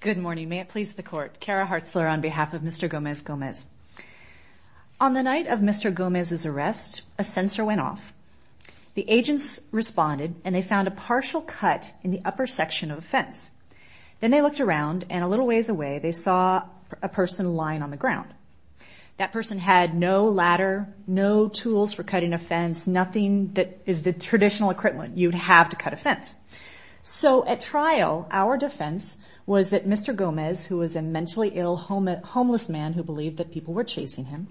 Good morning, may it please the court, Cara Hartzler on behalf of Mr. Gomez-Gomez. On the night of Mr. Gomez's arrest, a sensor went off. The agents responded and they found a partial cut in the upper section of a fence. Then they looked around and a little ways away they saw a person lying on the ground. That person had no ladder, no tools for cutting a fence, nothing that is the traditional equipment you'd have to cut a fence. So at trial, our defense was that Mr. Gomez, who was a mentally ill homeless man who believed that people were chasing him,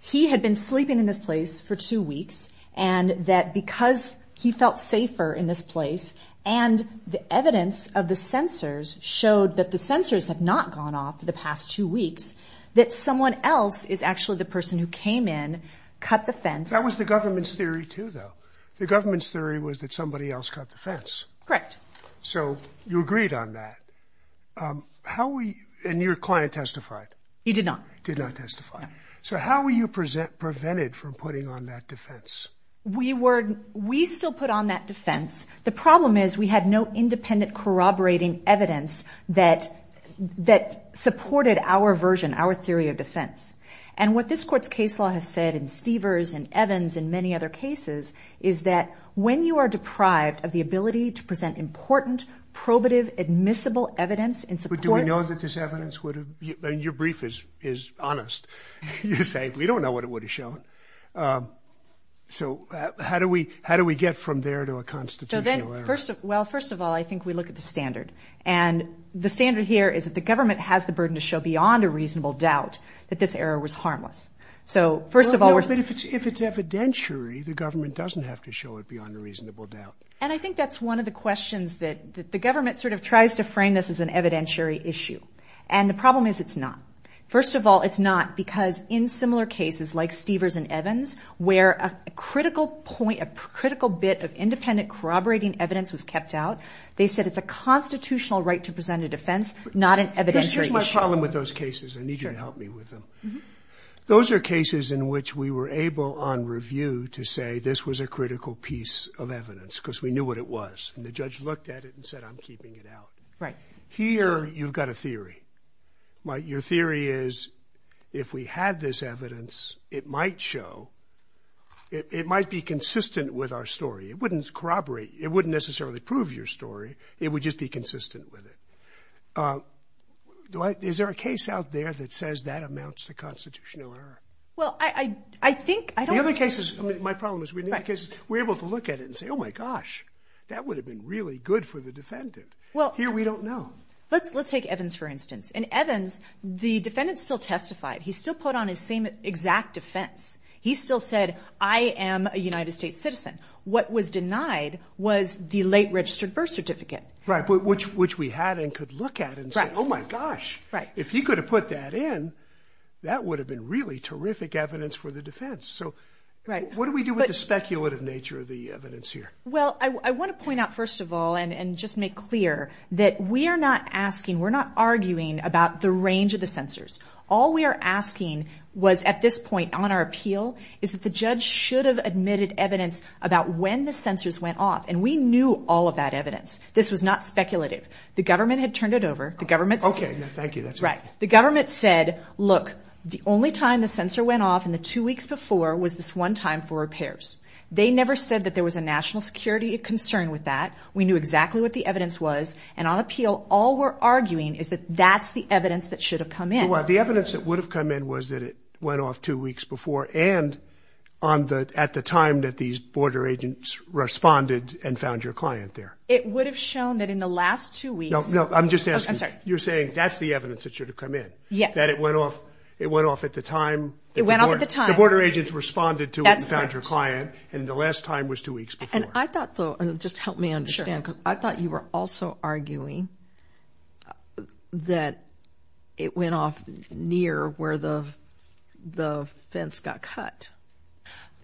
he had been sleeping in this place for two weeks and that because he felt safer in this place and the evidence of the sensors showed that the sensors have not gone off for the past two weeks, that someone else is actually the person who came in, cut the fence. That was the government's theory too, though. The government's theory was that somebody else cut the fence. Correct. So you agreed on that. How we, and your client testified. He did not. Did not testify. So how were you prevented from putting on that defense? We were, we still put on that defense. The problem is we had no independent corroborating evidence that supported our version, our theory of defense. And what this court's case law has said in Stevers and Evans and many other cases is that when you are deprived of the ability to present important, probative, admissible evidence in support. But do we know that this evidence would have, your brief is honest. You're saying we don't know what it would have shown. So how do we, how do we get from there to a constitutional error? Well, first of all, I think we look at the standard. And the standard here is that the government has the burden to show beyond a reasonable doubt that this error was harmless. So first of all. But if it's evidentiary, the government doesn't have to show it beyond a reasonable doubt. And I think that's one of the questions that the government sort of tries to frame this as an evidentiary issue. And the problem is it's not. First of all, it's not because in similar cases like Stevers and Evans, where a critical point, a critical bit of independent corroborating evidence was kept out. They said it's a constitutional right to present a defense, not an evidentiary issue. Here's my problem with those cases. I need you to help me with them. Those are cases in which we were able on review to say this was a critical piece of evidence because we knew what it was. And the judge looked at it and said, I'm keeping it out. Right. Here, you've got a theory. But your theory is if we had this evidence, it might show it might be consistent with our story. It wouldn't corroborate. It wouldn't necessarily prove your story. It would just be consistent with it. Is there a case out there that says that amounts to constitutional error? Well, I think the other case is my problem is because we're able to look at it and say, oh, my gosh, that would have been really good for the defendant. Well, here we don't know. Let's let's take Evans, for instance. And Evans, the defendant still testified. He still put on his same exact defense. He still said, I am a United States citizen. What was denied was the late registered birth certificate. Right. But which which we had and could look at and say, oh, my gosh. Right. If you could have put that in, that would have been really terrific evidence for the defense. So what do we do with the speculative nature of the evidence here? Well, I want to point out, first of all, and just make clear that we are not asking we're not arguing about the range of the censors. All we are asking was at this point on our appeal is that the judge should have admitted evidence about when the censors went off. And we knew all of that evidence. This was not speculative. The government had turned it over. The government. OK, thank you. That's right. The government said, look, the only time the censor went off in the two weeks before was this one time for repairs. They never said that there was a national security concern with that. We knew exactly what the evidence was. And on appeal, all we're arguing is that that's the evidence that should have come in. Well, the evidence that would have come in was that it went off two weeks before and on the at the time that these border agents responded and found your client there. It would have shown that in the last two weeks. No, no. I'm just saying you're saying that's the evidence that should have come in. Yes. That it went off. It went off at the time. It went on at the time. Border agents responded to it and found your client. And the last time was two weeks before. And I thought, though, and just help me understand, because I thought you were also arguing that it went off near where the the fence got cut.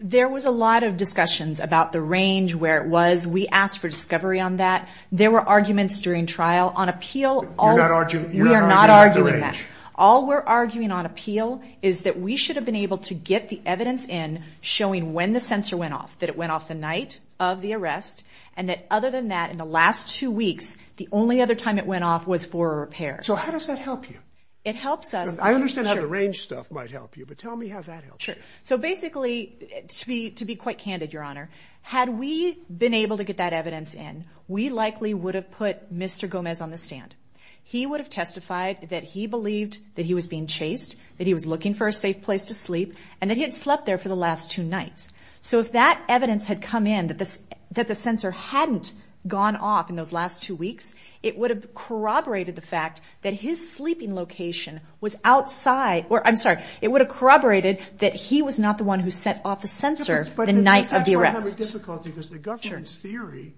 There was a lot of discussions about the range where it was. We asked for discovery on that. There were arguments during trial on appeal. All that, aren't you? You're not arguing that all we're arguing on appeal is that we should have been able to get the evidence in showing when the sensor went off, that it went off the night of the arrest. And that other than that, in the last two weeks, the only other time it went off was for a repair. So how does that help you? It helps us. I understand how the range stuff might help you, but tell me how that helps. So basically, to be to be quite candid, Your Honor, had we been able to get that evidence in, we likely would have put Mr. Gomez on the stand. He would have testified that he believed that he was being chased, that he was looking for a safe place to sleep, and that he had slept there for the last two nights. So if that evidence had come in, that the sensor hadn't gone off in those last two weeks, it would have corroborated the fact that his sleeping location was outside. Or I'm sorry, it would have corroborated that he was not the one who set off the sensor the night of the arrest. But that's why I have a difficulty, because the government's theory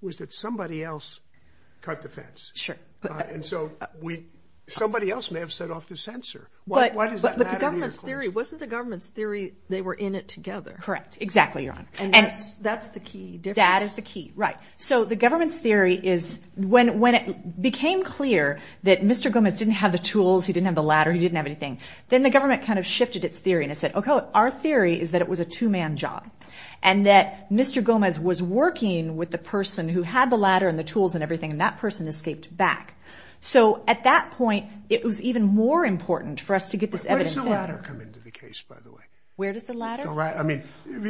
was that somebody else cut the fence. Sure. And so we, somebody else may have set off the sensor. Why does that matter to you? Wasn't the government's theory, they were in it together? Correct. Exactly, Your Honor. And that's the key difference. That is the key. Right. So the government's theory is, when it became clear that Mr. Gomez didn't have the tools, he didn't have the ladder, he didn't have anything, then the government kind of shifted its theory. And it said, OK, our theory is that it was a two-man job and that Mr. Gomez was working with the person who had the ladder and the tools and everything. And that person escaped back. So at that point, it was even more important for us to get this evidence. Where does the ladder come into the case, by the way? Where does the ladder? All right. I mean,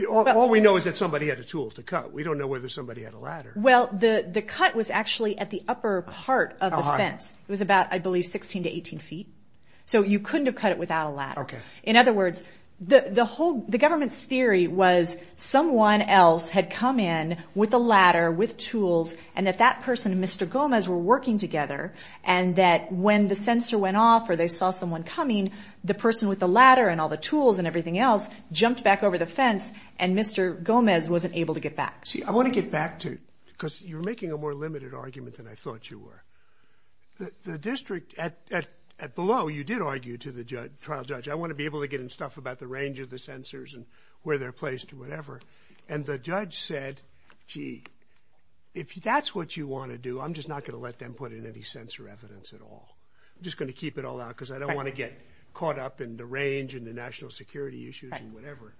all we know is that somebody had a tool to cut. We don't know whether somebody had a ladder. Well, the cut was actually at the upper part of the fence. It was about, I believe, 16 to 18 feet. So you couldn't have cut it without a ladder. OK. In other words, the whole, the government's theory was someone else had come in with a ladder, with tools, and that that person, Mr. Gomez, were working together. And that when the sensor went off or they saw someone coming, the person with the ladder and all the tools and everything else jumped back over the fence. And Mr. Gomez wasn't able to get back. See, I want to get back to, because you're making a more limited argument than I thought you were. The district at below, you did argue to the trial judge, I want to be able to get in stuff about the range of the sensors and where they're placed or whatever. And the judge said, gee, if that's what you want to do, I'm just not going to let them put in any sensor evidence at all. I'm just going to keep it all out because I don't want to get caught up in the range and the national security issues and whatever.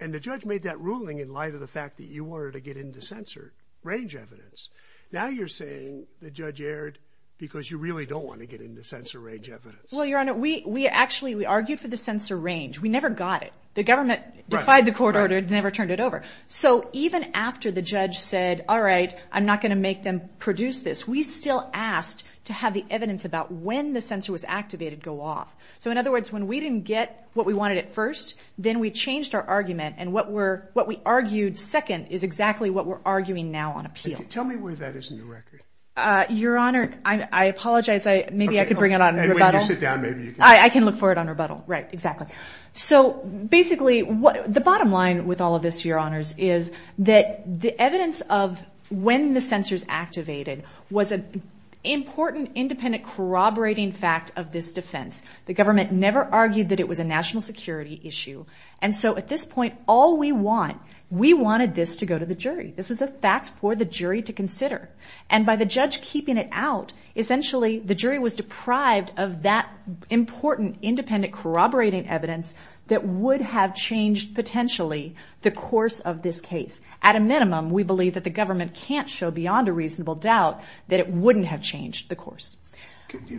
And the judge made that ruling in light of the fact that you wanted to get into sensor range evidence. Now you're saying the judge erred because you really don't want to get into sensor range evidence. Well, Your Honor, we actually, we argued for the sensor range. We never got it. The government defied the court order, never turned it over. So even after the judge said, all right, I'm not going to make them produce this. We still asked to have the evidence about when the sensor was activated go off. So in other words, when we didn't get what we wanted at first, then we changed our argument. And what we're, what we argued second is exactly what we're arguing now on appeal. Tell me where that is in the record. Uh, Your Honor, I apologize. I, maybe I could bring it on. I can look for it on rebuttal. Right, exactly. So basically what the bottom line with all of this, Your Honors, is that the evidence of when the sensors activated was an important, independent corroborating fact of this defense. The government never argued that it was a national security issue. And so at this point, all we want, we wanted this to go to the jury. This was a fact for the jury to consider. And by the judge keeping it out, essentially the jury was deprived of that important, independent corroborating evidence that would have changed potentially the course of this case. At a minimum, we believe that the government can't show beyond a reasonable doubt that it wouldn't have changed the course.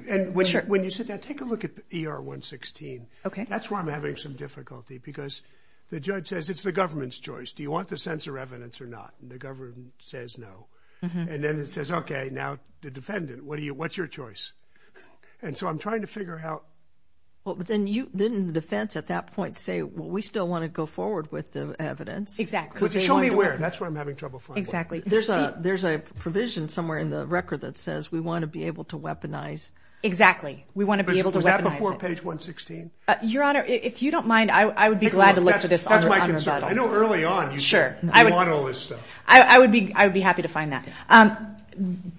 And when you said that, take a look at ER 116. Okay. That's why I'm having some difficulty because the judge says it's the government's choice. Do you want the sensor evidence or not? And the government says no. And then it says, okay, now the defendant, what do you, what's your choice? And so I'm trying to figure out. Well, but then you, then the defense at that point say, well, we still want to go forward with the evidence. Exactly. But show me where, that's where I'm having trouble finding. Exactly. There's a, there's a provision somewhere in the record that says we want to be able to weaponize. Exactly. We want to be able to weaponize it. Was that before page 116? Your Honor, if you don't mind, I would be glad to look for this on rebuttal. I know early on, you want all this stuff. I would be, I would be happy to find that.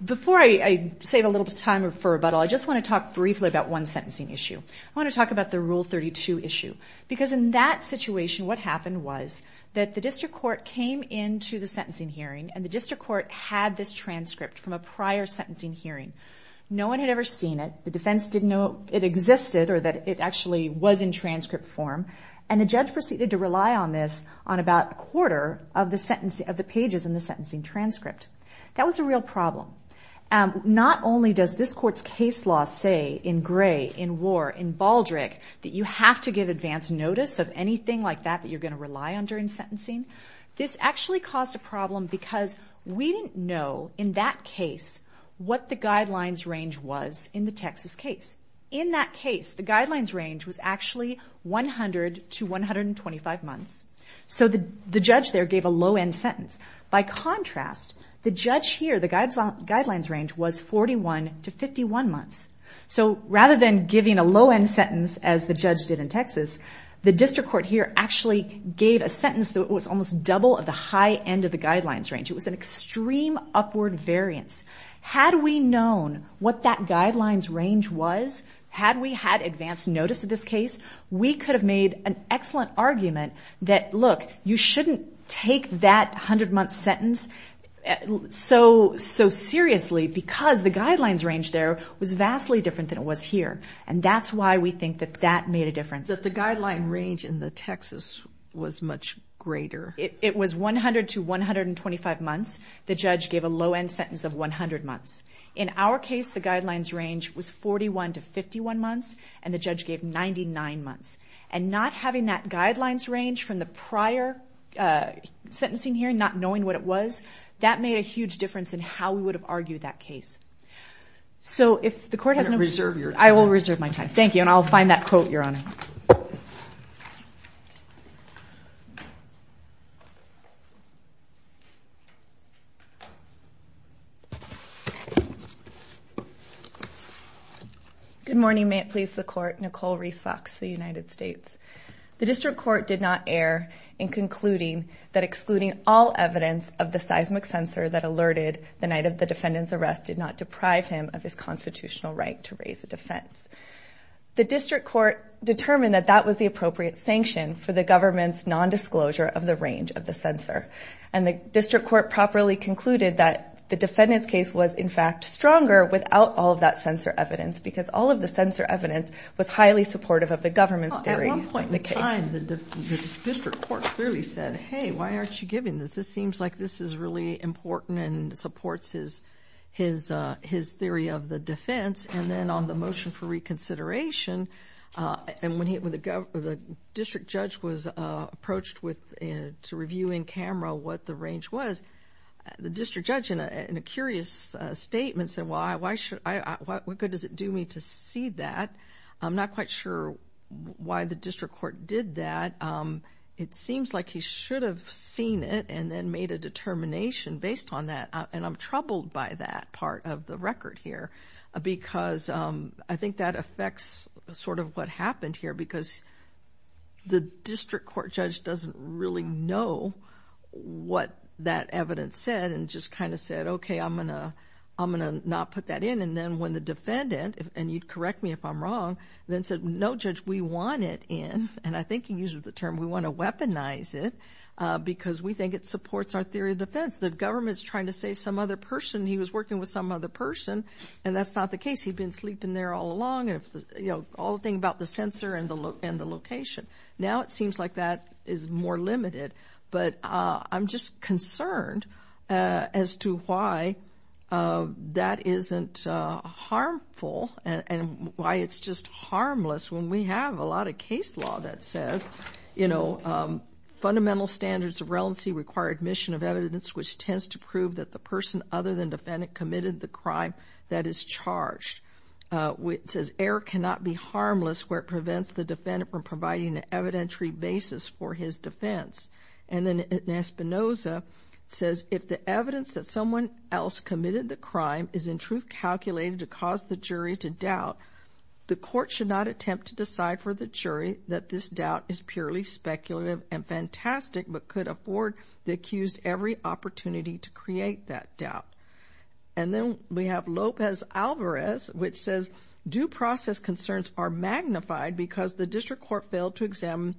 Before I save a little time for rebuttal, I just want to talk briefly about one sentencing issue. I want to talk about the Rule 32 issue. Because in that situation, what happened was that the district court came into the sentencing hearing and the district court had this transcript from a prior sentencing hearing. No one had ever seen it. The defense didn't know it existed or that it actually was in transcript form. And the judge proceeded to rely on this on about a quarter of the sentence, of the pages in the sentencing transcript. That was a real problem. Not only does this court's case law say in Gray, in War, in Baldrick, that you have to give advance notice of anything like that that you're going to rely on during sentencing, this actually caused a problem because we didn't know in that case what the guidelines range was in the Texas case. In that case, the guidelines range was actually 100 to 125 months. So the judge there gave a low-end sentence. By contrast, the judge here, the guidelines range was 41 to 51 months. So rather than giving a low-end sentence as the judge did in Texas, the district court here actually gave a sentence that was almost double of the high end of the guidelines range. It was an extreme upward variance. Had we known what that guidelines range was, had we had advance notice of this case, we could have made an excellent argument that, look, you shouldn't take that 100-month sentence so seriously because the guidelines range there was vastly different than it was here. And that's why we think that that made a difference. But the guideline range in the Texas was much greater. It was 100 to 125 months. The judge gave a low-end sentence of 100 months. In our case, the guidelines range was 41 to 51 months, and the judge gave 99 months. And not having that guidelines range from the prior sentencing hearing, not knowing what it was, that made a huge difference in how we would have argued that case. So if the court has no... I reserve your time. I will reserve my time. Thank you. And I'll find that quote, Your Honor. Good morning. May it please the court. Nicole Reese Fox, the United States. The district court did not err in concluding that excluding all evidence of the seismic sensor that alerted the night of the defendant's arrest did not deprive him of his constitutional right to raise a defense. The district court determined that that was the appropriate sanction for the government's nondisclosure of the range of the sensor. And the district court properly concluded that the defendant's case was, in fact, stronger without all of that sensor evidence, because all of the sensor evidence was highly supportive of the government's theory of the case. Well, at one point in time, the district court clearly said, hey, why aren't you giving this? This seems like this is really important and supports his theory of the defense. And then on the motion for reconsideration, and when the district judge was approached to review in camera what the range was, the district judge in a curious statement said, well, what good does it do me to see that? I'm not quite sure why the district court did that. It seems like he should have seen it and then made a determination based on that. And I'm troubled by that part of the record here, because I think that affects sort of what happened here, because the district court judge doesn't really know what that evidence said and just kind of said, okay, I'm going to not put that in. And then when the defendant, and you'd correct me if I'm wrong, then said, no, judge, we want it in, and I think he uses the term, we want to weaponize it, because we think it supports our theory of defense. The government's trying to say some other person, he was working with some other person, and that's not the case. He'd been sleeping there all along. All the thing about the sensor and the location. Now it seems like that is more limited, but I'm just concerned as to why that isn't harmful and why it's just harmless when we have a lot of case law that says, you know, fundamental standards of relevancy require admission of evidence which tends to prove that the person other than defendant committed the crime that is charged. It says error cannot be harmless where it prevents the defendant from providing an evidentiary basis for his defense. And then in Espinoza, it says if the evidence that someone else committed the crime is in truth calculated to cause the jury to doubt, the court should not attempt to decide for the jury that this doubt is purely speculative and fantastic but could afford the accused every opportunity to create that doubt. And then we have Lopez Alvarez, which says due process concerns are magnified because the district court failed to examine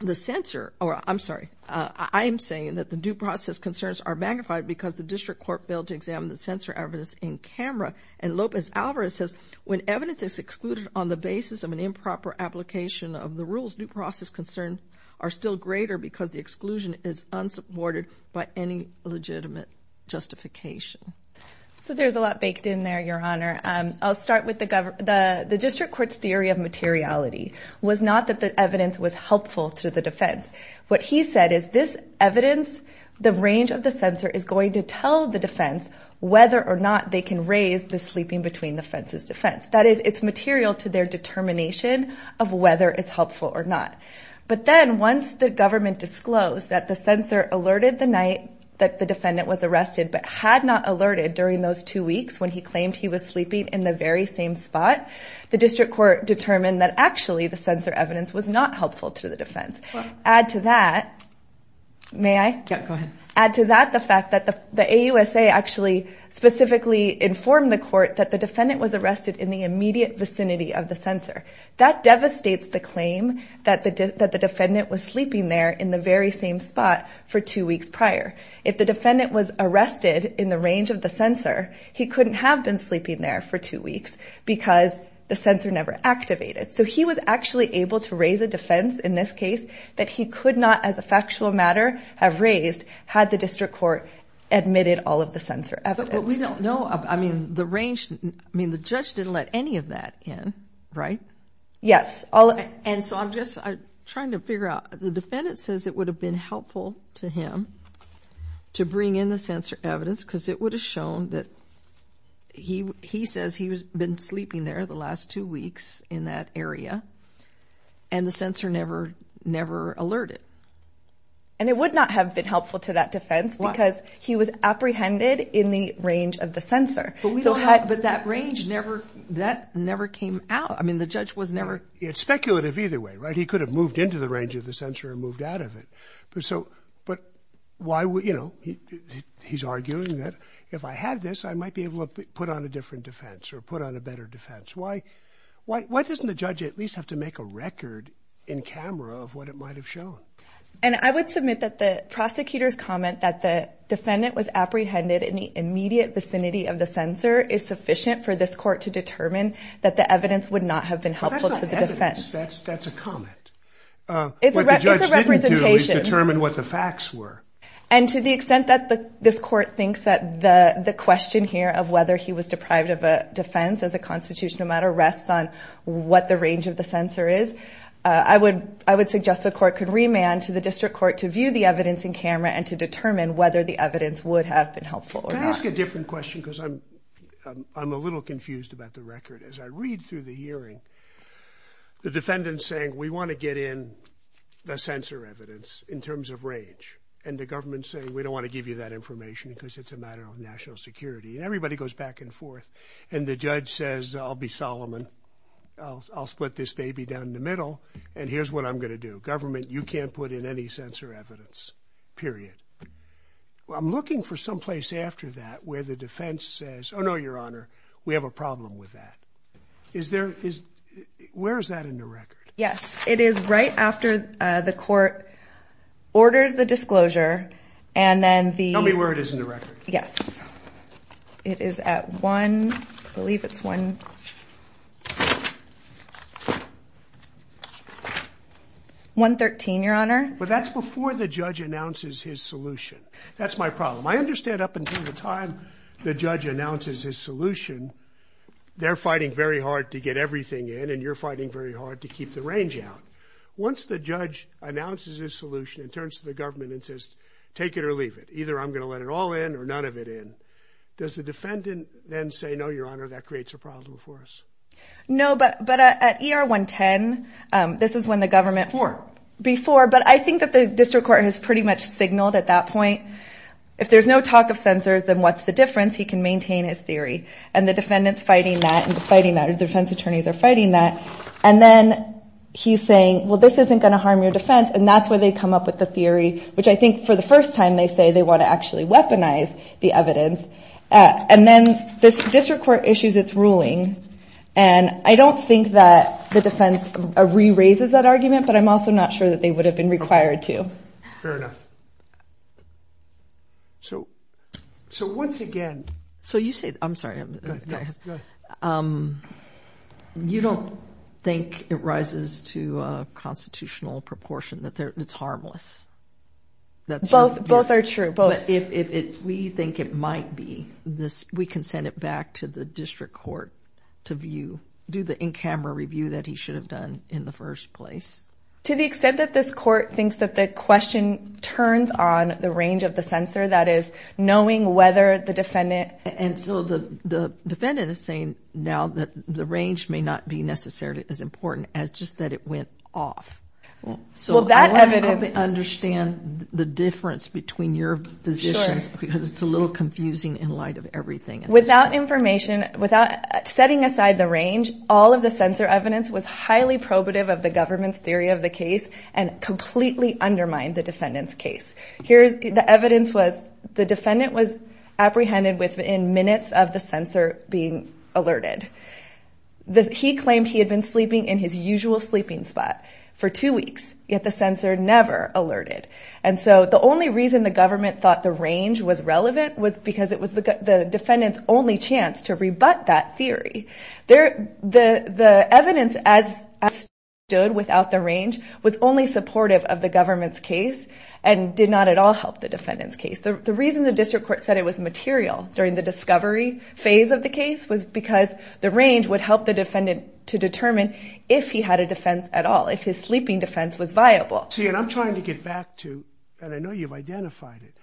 the sensor. Or I'm sorry, I'm saying that the due process concerns are magnified because the district court failed to examine the sensor evidence in camera. And Lopez Alvarez says when evidence is excluded on the basis of an improper application of the rules, due process concerns are still greater because the exclusion is unsupported by any legitimate justification. So there's a lot baked in there, Your Honor. I'll start with the district court's theory of materiality was not that the evidence was helpful to the defense. What he said is this evidence, the range of the sensor is going to tell the defense whether or not they can raise the sleeping between the fences defense. That is, it's material to their determination of whether it's helpful or not. But then once the government disclosed that the sensor alerted the night that the defendant was arrested but had not alerted during those two weeks when he claimed he was sleeping in the very same spot, the district court determined that actually the sensor evidence was not helpful to the defense. Add to that, may I? Yeah, go ahead. Add to that the fact that the AUSA actually specifically informed the court that the defendant was arrested in the immediate vicinity of the sensor. That devastates the claim that the defendant was sleeping there in the very same spot for two weeks prior. If the defendant was arrested in the range of the sensor, he couldn't have been sleeping there for two weeks because the sensor never activated. So he was actually able to raise a defense in this case that he could not as a factual matter have raised had the district court admitted all of the sensor evidence. But we don't know. I mean, the range, I mean, the judge didn't let any of that in. Right? Yes. And so I'm just trying to figure out, the defendant says it would have been helpful to him to bring in the sensor evidence because it would have shown that he says he's been sleeping there the last two weeks in that area and the sensor never alerted. And it would not have been helpful to that defense because he was apprehended in the range of the sensor. But that range never, that never came out. I mean, the judge was never... It's speculative either way, right? He could have moved into the range of the sensor and moved out of it. But so, but why would, you know, he's arguing that if I had this, I might be able to put on a different defense or put on a better defense. Why doesn't the judge at least have to make a record in camera of what it might have shown? And I would submit that the prosecutor's comment that the defendant was apprehended in the immediate vicinity of the sensor is sufficient for this court to determine that the evidence would not have been helpful to the defense. That's not evidence. That's a comment. It's a representation. What the judge didn't do is determine what the facts were. And to the extent that this court thinks that the question here of whether he was deprived of a defense as a constitutional matter rests on what the range of the sensor is, I would suggest the court could remand to the district court to view the evidence in camera and to determine whether the evidence would have been helpful or not. Can I ask a different question? Because I'm, I'm a little confused about the record as I read through the hearing. The defendant's saying, we want to get in the sensor evidence in terms of range. And the government's saying, we don't want to give you that information because it's a matter of national security and everybody goes back and forth. And the judge says, I'll be Solomon. I'll split this baby down the middle. And here's what I'm going to do. The government, you can't put in any sensor evidence, period. I'm looking for someplace after that where the defense says, Oh no, your honor, we have a problem with that. Is there, where is that in the record? Yes. It is right after the court orders the disclosure. And then the, tell me where it is in the record. Yes. It is at one, I believe it's one, one 13, your honor. But that's before the judge announces his solution. That's my problem. I understand up until the time the judge announces his solution, they're fighting very hard to get everything in and you're fighting very hard to keep the range out. Once the judge announces his solution, it turns to the government and says, take it or leave it. Either I'm going to let it all in or none of it in. Does the defendant then say, no, your honor, that creates a problem for us. No, but, but at ER 110, this is when the government before, but I think that the district court has pretty much signaled at that point, if there's no talk of sensors, then what's the difference he can maintain his theory and the defendants fighting that and fighting that or defense attorneys are fighting that. And then he's saying, well, this isn't going to harm your defense. And that's where they come up with the theory, which I think for the first time they say they want to actually weaponize the evidence. And then this district court issues, it's ruling. And I don't think that the defense re-raises that argument, but I'm also not sure that they would have been required to. Fair enough. So, so once again, so you say, I'm sorry, you don't think it rises to a constitutional proportion that it's harmless. That's both, both are true, but if we think it might be this, we can send it back to the district court to view, do the in-camera review that he should have done in the first place. To the extent that this court thinks that the question turns on the range of the sensor, that is knowing whether the defendant. And so the defendant is saying now that the range may not be necessarily as important as just that it went off. So I want to understand the difference between your positions because it's a little confusing in light of everything. Without information, without setting aside the range, all of the sensor evidence was highly probative of the government's theory of the case and completely undermined the defendant's case. Here, the evidence was the defendant was apprehended within minutes of the sensor being alerted. He claimed he had been sleeping in his usual sleeping spot for two weeks, yet the sensor never alerted. And so the only reason the government thought the range was relevant was because it was the defendant's only chance to rebut that theory. The evidence as it stood without the range was only supportive of the government's case and did not at all help the defendant's case. The reason the district court said it was material during the discovery phase of the defendant to determine if he had a defense at all, if his sleeping defense was viable. See, and I'm trying to get back to, and I know you've identified it,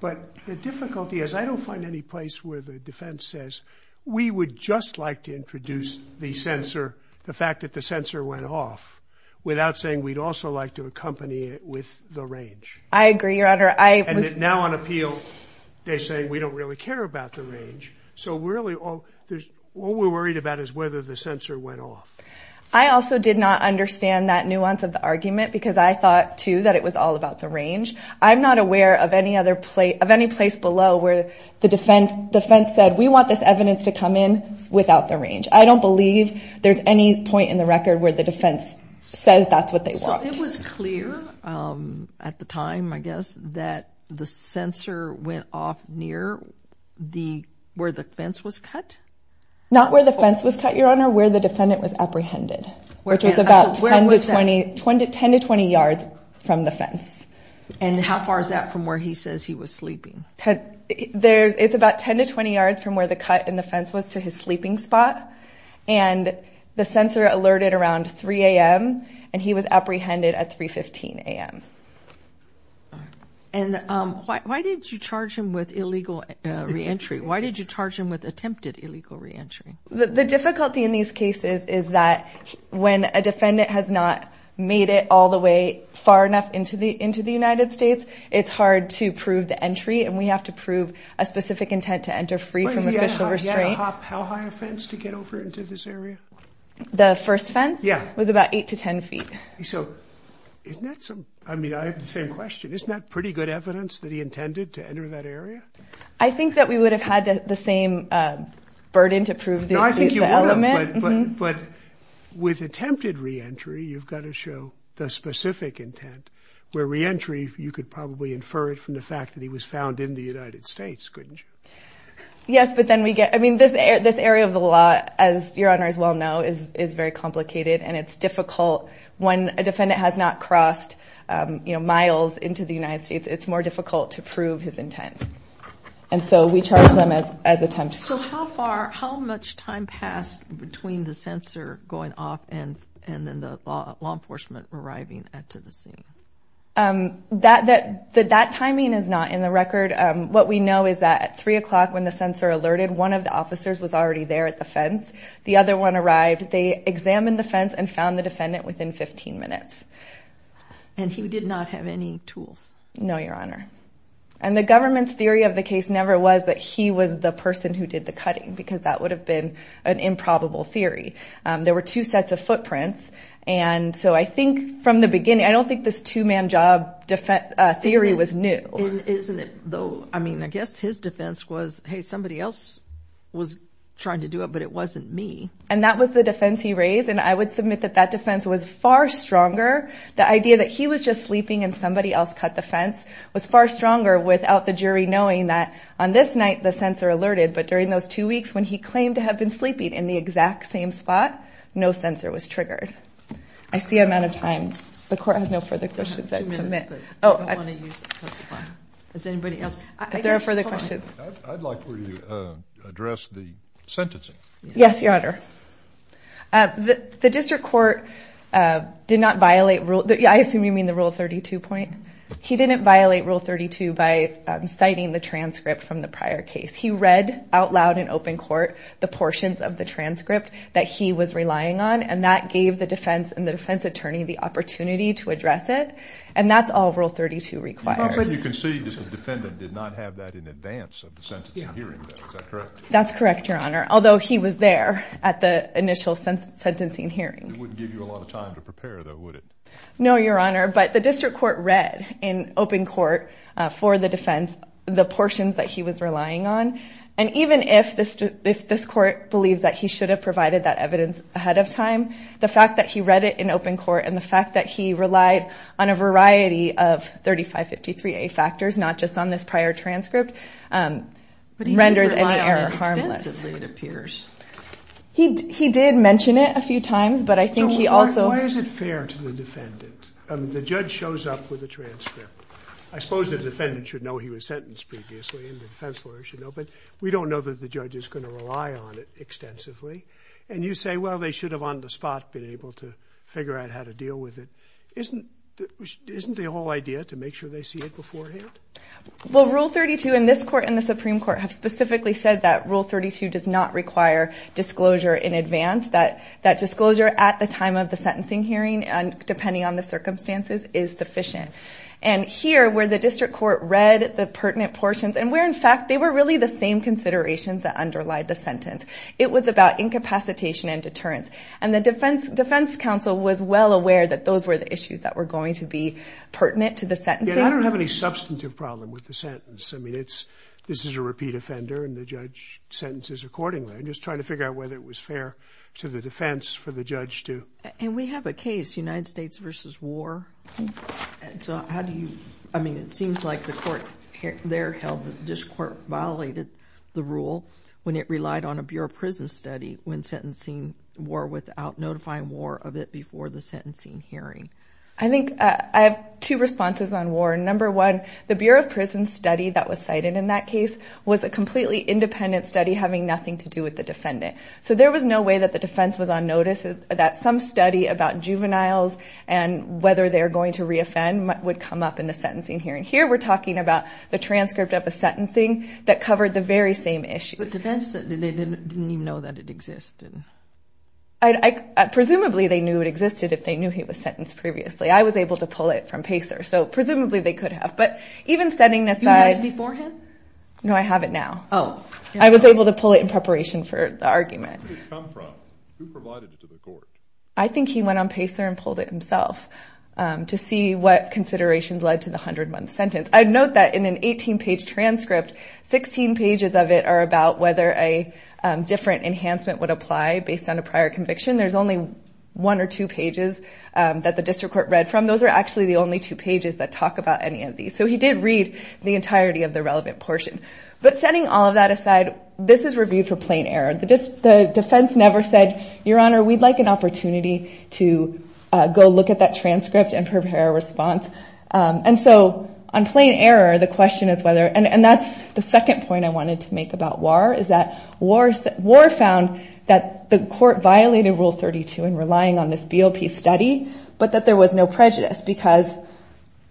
but the difficulty is I don't find any place where the defense says we would just like to introduce the sensor, the fact that the sensor went off, without saying we'd also like to accompany it with the range. I agree, Your Honor. And now on appeal, they're saying we don't really care about the range. So really, all we're worried about is whether the sensor went off. I also did not understand that nuance of the argument because I thought, too, that it was all about the range. I'm not aware of any place below where the defense said, we want this evidence to come in without the range. I don't believe there's any point in the record where the defense says that's what they want. So it was clear at the time, I guess, that the sensor went off near where the fence was cut? Not where the fence was cut, Your Honor, where the defendant was apprehended, which was about 10 to 20 yards from the fence. And how far is that from where he says he was sleeping? It's about 10 to 20 yards from where the cut in the fence was to his sleeping spot. And the sensor alerted around 3 a.m. and he was apprehended at 3.15 a.m. And why did you charge him with illegal re-entry? Why did you charge him with attempted illegal re-entry? The difficulty in these cases is that when a defendant has not made it all the way far enough into the United States, it's hard to prove the entry and we have to prove a specific intent to enter free from official restraint. How high a fence to get over into this area? The first fence was about 8 to 10 feet. So isn't that some, I mean, I have the same question. Isn't that pretty good evidence that he intended to enter that area? I think that we would have had the same burden to prove the element. But with attempted re-entry, you've got to show the specific intent, where re-entry, you could probably infer it from the fact that he was found in the United States, couldn't you? Yes, but then we get, I mean, this area of the law, as your honors well know, is very complicated and it's difficult when a defendant has not crossed, you know, miles into the United States, it's more difficult to prove his intent. And so we charge them as attempts. So how far, how much time passed between the censor going off and then the law enforcement arriving at the scene? That timing is not in the record. What we know is that at three o'clock when the censor alerted, one of the officers was already there at the fence. The other one arrived. They examined the fence and found the defendant within 15 minutes. And he did not have any tools? No, your honor. And the government's theory of the case never was that he was the person who did the cutting, because that would have been an improbable theory. There were two sets of footprints. And so I think from the beginning, I don't think this two-man job theory was new. Isn't it though? I mean, I guess his defense was, hey, somebody else was trying to do it, but it wasn't me. And that was the defense he raised. And I would submit that that defense was far stronger. The idea that he was just sleeping and somebody else cut the fence was far stronger without the jury knowing that on this night, the censor alerted. But during those two weeks when he claimed to have been sleeping in the exact same spot, no censor was triggered. I see amount of time. The court has no further questions. I have two minutes, but I don't want to use it, that's fine. Does anybody else? If there are further questions. I'd like for you to address the sentencing. Yes, your honor. The district court did not violate rule, I assume you mean the Rule 32 point? He didn't violate Rule 32 by citing the transcript from the prior case. He read out loud in open court the portions of the transcript that he was relying on. And that gave the defense and the defense attorney the opportunity to address it. And that's all Rule 32 requires. As you can see, the defendant did not have that in advance of the sentencing hearing. That's correct, your honor. Although he was there at the initial sentencing hearing. It wouldn't give you a lot of time to prepare though, would it? No, your honor. But the district court read in open court for the defense, the portions that he was relying on. And even if this court believes that he should have provided that evidence ahead of time, the fact that he read it in open court and the fact that he relied on a variety of 3553A factors, not just on this prior transcript, renders any error harmless. He did mention it a few times, but I think he also... Why is it fair to the defendant? The judge shows up with a transcript. I suppose the defendant should know he was sentenced previously and the defense lawyer should know. But we don't know that the judge is going to rely on it extensively. And you say, well, they should have on the spot been able to figure out how to deal with it. Isn't the whole idea to make sure they see it beforehand? Well, Rule 32 in this court and the Supreme Court have specifically said that Rule 32 does not require disclosure in advance. That disclosure at the time of the sentencing hearing and depending on the circumstances is sufficient. And here where the district court read the pertinent portions and where in fact they were really the same considerations that underlie the sentence. It was about incapacitation and deterrence. And the defense counsel was well aware that those were the issues that were going to be pertinent to the sentencing. And I don't have any substantive problem with the sentence. I mean, it's, this is a repeat offender and the judge sentences accordingly. I'm just trying to figure out whether it was fair to the defense for the judge to... And we have a case, United States versus war. So how do you, I mean, it seems like the court there held that this court violated the rule when it relied on a Bureau of Prison study when sentencing war without notifying war of it before the sentencing hearing. I think I have two responses on war. Number one, the Bureau of Prison study that was cited in that case was a completely independent study having nothing to do with the defendant. So there was no way that the defense was on notice that some study about juveniles and whether they're going to re-offend would come up in the sentencing hearing. Here we're talking about the transcript of a sentencing that covered the very same issue. But defense didn't even know that it existed. Presumably they knew it existed if they knew he was sentenced previously. I was able to pull it from Pacer. So presumably they could have. But even setting this aside... You read it beforehand? No, I have it now. Oh. I was able to pull it in preparation for the argument. Where did it come from? Who provided it to the court? I think he went on Pacer and pulled it himself to see what considerations led to the 101th sentence. I'd note that in an 18-page transcript, 16 pages of it are about whether a different enhancement would apply based on a prior conviction. There's only one or two pages that the district court read from. Those are actually the only two pages that talk about any of these. So he did read the entirety of the relevant portion. But setting all of that aside, this is reviewed for plain error. The defense never said, Your Honor, we'd like an opportunity to go look at that transcript and prepare a response. And so on plain error, the question is whether... And that's the second point I wanted to make about Warr, is that Warr found that the court violated Rule 32 in relying on this BOP study, but that there was no prejudice. Because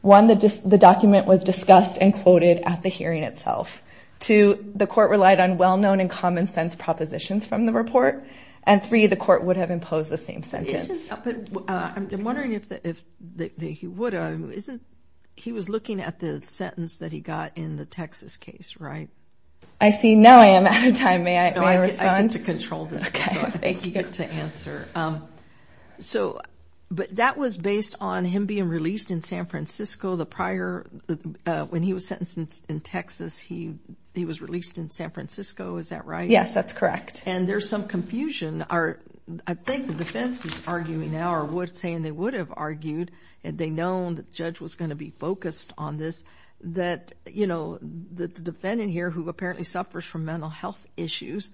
one, the document was discussed and quoted at the hearing itself. Two, the court relied on well-known and common sense propositions from the report. And three, the court would have imposed the same sentence. But I'm wondering if he would have... He was looking at the sentence that he got in the Texas case, right? I see. Now I am out of time. May I respond? No, I get to control this. Okay. Thank you. You get to answer. So... But that was based on him being released in San Francisco the prior... He was released in San Francisco, is that right? Yes, that's correct. And there's some confusion. I think the defense is arguing now, or saying they would have argued, had they known that the judge was going to be focused on this, that the defendant here, who apparently suffers from mental health issues,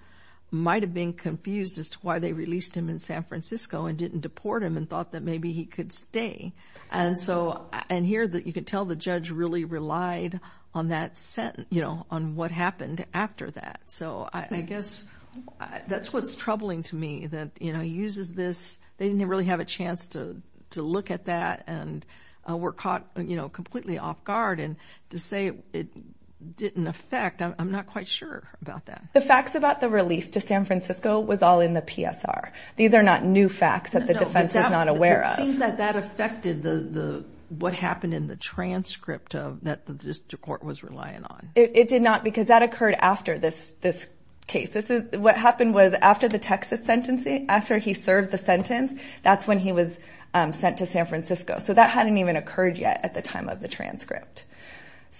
might have been confused as to why they released him in San Francisco and didn't deport him and thought that maybe he could stay. And so... And here, you could tell the judge really relied on that sentence, on what happened after that. So I guess that's what's troubling to me, that he uses this... They didn't really have a chance to look at that and were caught completely off guard. And to say it didn't affect, I'm not quite sure about that. The facts about the release to San Francisco was all in the PSR. These are not new facts that the defense was not aware of. It seems that that affected what happened in the transcript that the district court was relying on. It did not, because that occurred after this case. What happened was, after the Texas sentencing, after he served the sentence, that's when he was sent to San Francisco. So that hadn't even occurred yet at the time of the transcript.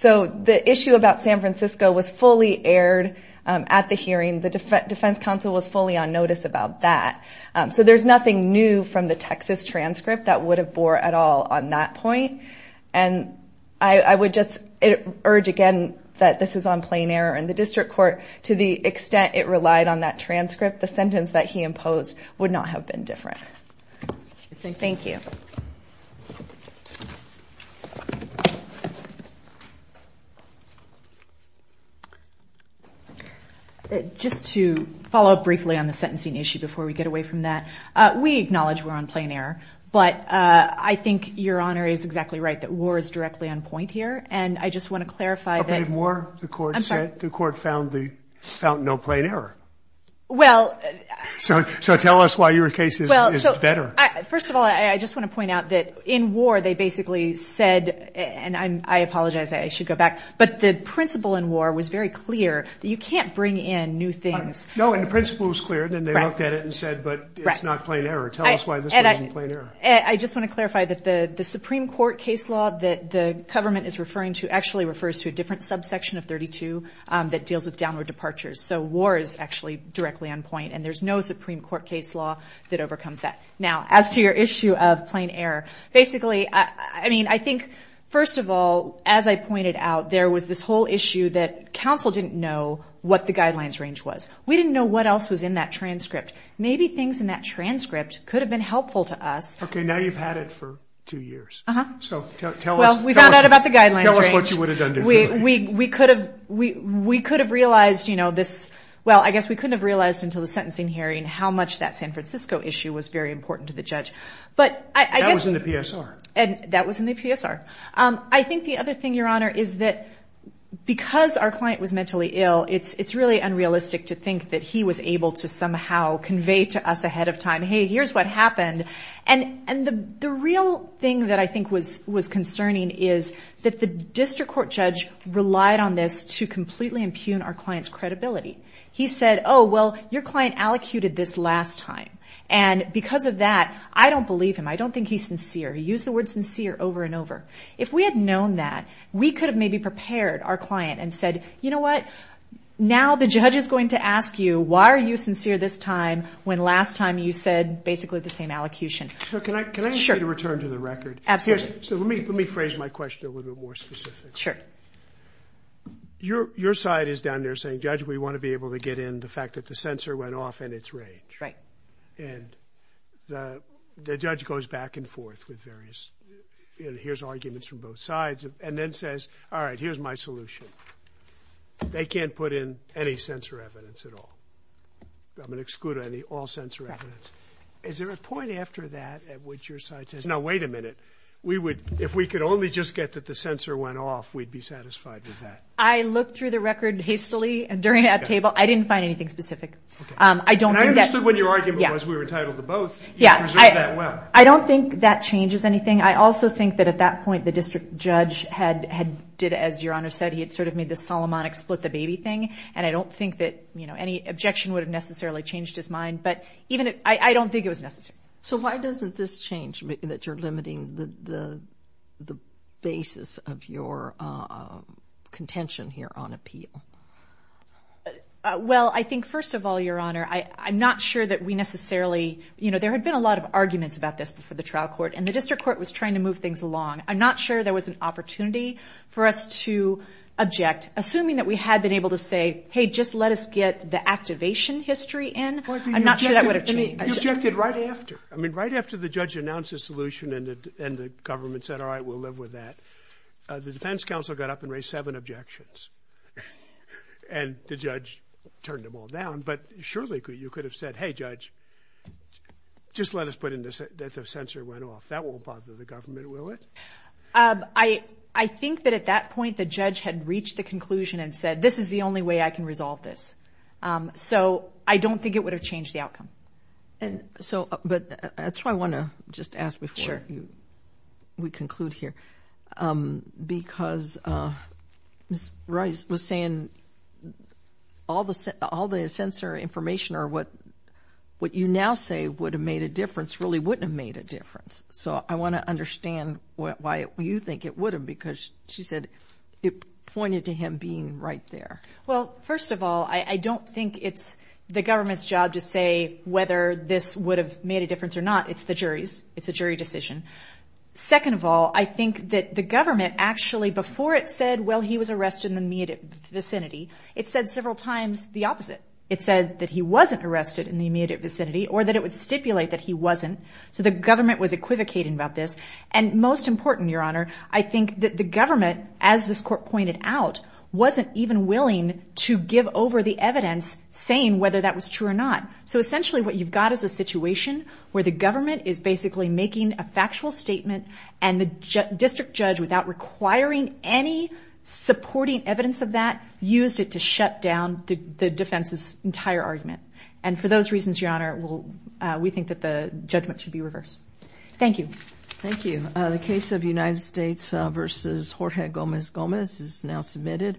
So the issue about San Francisco was fully aired at the hearing. The defense counsel was fully on notice about that. So there's nothing new from the Texas transcript that would have bore at all on that point. And I would just urge again, that this is on plain air in the district court. To the extent it relied on that transcript, the sentence that he imposed would not have been different. Thank you. Just to follow up briefly on the sentencing issue before we get away from that. We acknowledge we're on plain air, but I think Your Honor is exactly right, that war is directly on point here. And I just want to clarify that- Okay, more. The court said- I'm sorry. The court found no plain error. So tell us why your case is better. First of all, I just want to point out that in war, they basically said, and I apologize, I should go back, but the principle in war was very clear that you can't bring in new things. No, and the principle was clear, and then they looked at it and said, but it's not plain error. Tell us why this wasn't plain error. I just want to clarify that the Supreme Court case law that the government is referring to actually refers to a different subsection of 32 that deals with downward departures. So war is actually directly on point, and there's no Supreme Court case law that overcomes that. Now, as to your issue of plain error, basically, I mean, I think, first of all, as I pointed out, there was this whole issue that counsel didn't know what the guidelines range was. We didn't know what else was in that transcript. Maybe things in that transcript could have been helpful to us. Okay, now you've had it for two years. So tell us- Well, we found out about the guidelines range. Tell us what you would have done differently. We could have realized this- well, I guess we couldn't have realized until the sentencing hearing how much that San Francisco issue was very important to the judge. But I guess- That was in the PSR. That was in the PSR. I think the other thing, Your Honor, is that because our client was mentally ill, it's really unrealistic to think that he was able to somehow convey to us ahead of time, hey, here's what happened. And the real thing that I think was concerning is that the district court judge relied on this to completely impugn our client's credibility. He said, oh, well, your client allocuted this last time. And because of that, I don't believe him. I don't think he's sincere. He used the word sincere over and over. If we had known that, we could have maybe prepared our client and said, you know what? Now the judge is going to ask you, why are you sincere this time when last time you said basically the same allocution? So can I- Sure. Can I ask you to return to the record? Absolutely. So let me phrase my question a little bit more specifically. Sure. Your side is down there saying, Judge, we want to be able to get in the fact that the censor went off in its range. Right. And the judge goes back and forth with various, you know, here's arguments from both sides and then says, all right, here's my solution. They can't put in any censor evidence at all. I'm going to exclude all censor evidence. Is there a point after that at which your side says, no, wait a minute. We would, if we could only just get that the censor went off, we'd be satisfied with that. I looked through the record hastily during that table. I didn't find anything specific. I don't think that- And I understood what your argument was. We were entitled to both. Yeah. You preserved that well. I don't think that changes anything. I also think that at that point, the district judge had did, as Your Honor said, he had sort of made this Solomonic split the baby thing. And I don't think that, you know, any objection would have necessarily changed his mind. But even, I don't think it was necessary. So why doesn't this change that you're limiting the basis of your contention here on appeal? Well, I think first of all, Your Honor, I'm not sure that we necessarily, you know, there had been a lot of arguments about this before the trial court and the district court was trying to move things along. I'm not sure there was an opportunity for us to object, assuming that we had been able to say, hey, just let us get the activation history in. I'm not sure that would have changed. You objected right after. I mean, right after the judge announced a solution and the government said, all right, we'll live with that. The defense counsel got up and raised seven objections. And the judge turned them all down. But surely you could have said, hey, judge, just let us put in that the censor went off. That won't bother the government, will it? I think that at that point, the judge had reached the conclusion and said, this is the only way I can resolve this. So I don't think it would have changed the outcome. And so, but that's why I want to just ask before we conclude here, because Ms. Rice was saying all the censor information or what you now say would have made a difference really wouldn't have made a difference. So I want to understand why you think it would have, because she said it pointed to him being right there. Well, first of all, I don't think it's the government's job to say whether this would have made a difference or not. It's the jury's. It's a jury decision. Second of all, I think that the government actually, before it said, well, he was arrested in the immediate vicinity, it said several times the opposite. It said that he wasn't arrested in the immediate vicinity or that it would stipulate that he wasn't. So the government was equivocating about this. And most important, Your Honor, I think that the government, as this court pointed out, wasn't even willing to give over the evidence saying whether that was true or not. So essentially what you've got is a situation where the government is basically making a factual statement and the district judge, without requiring any supporting evidence of that, used it to shut down the defense's entire argument. And for those reasons, Your Honor, we think that the judgment should be reversed. Thank you. Thank you. The case of United States v. Jorge Gomez-Gomez is now submitted.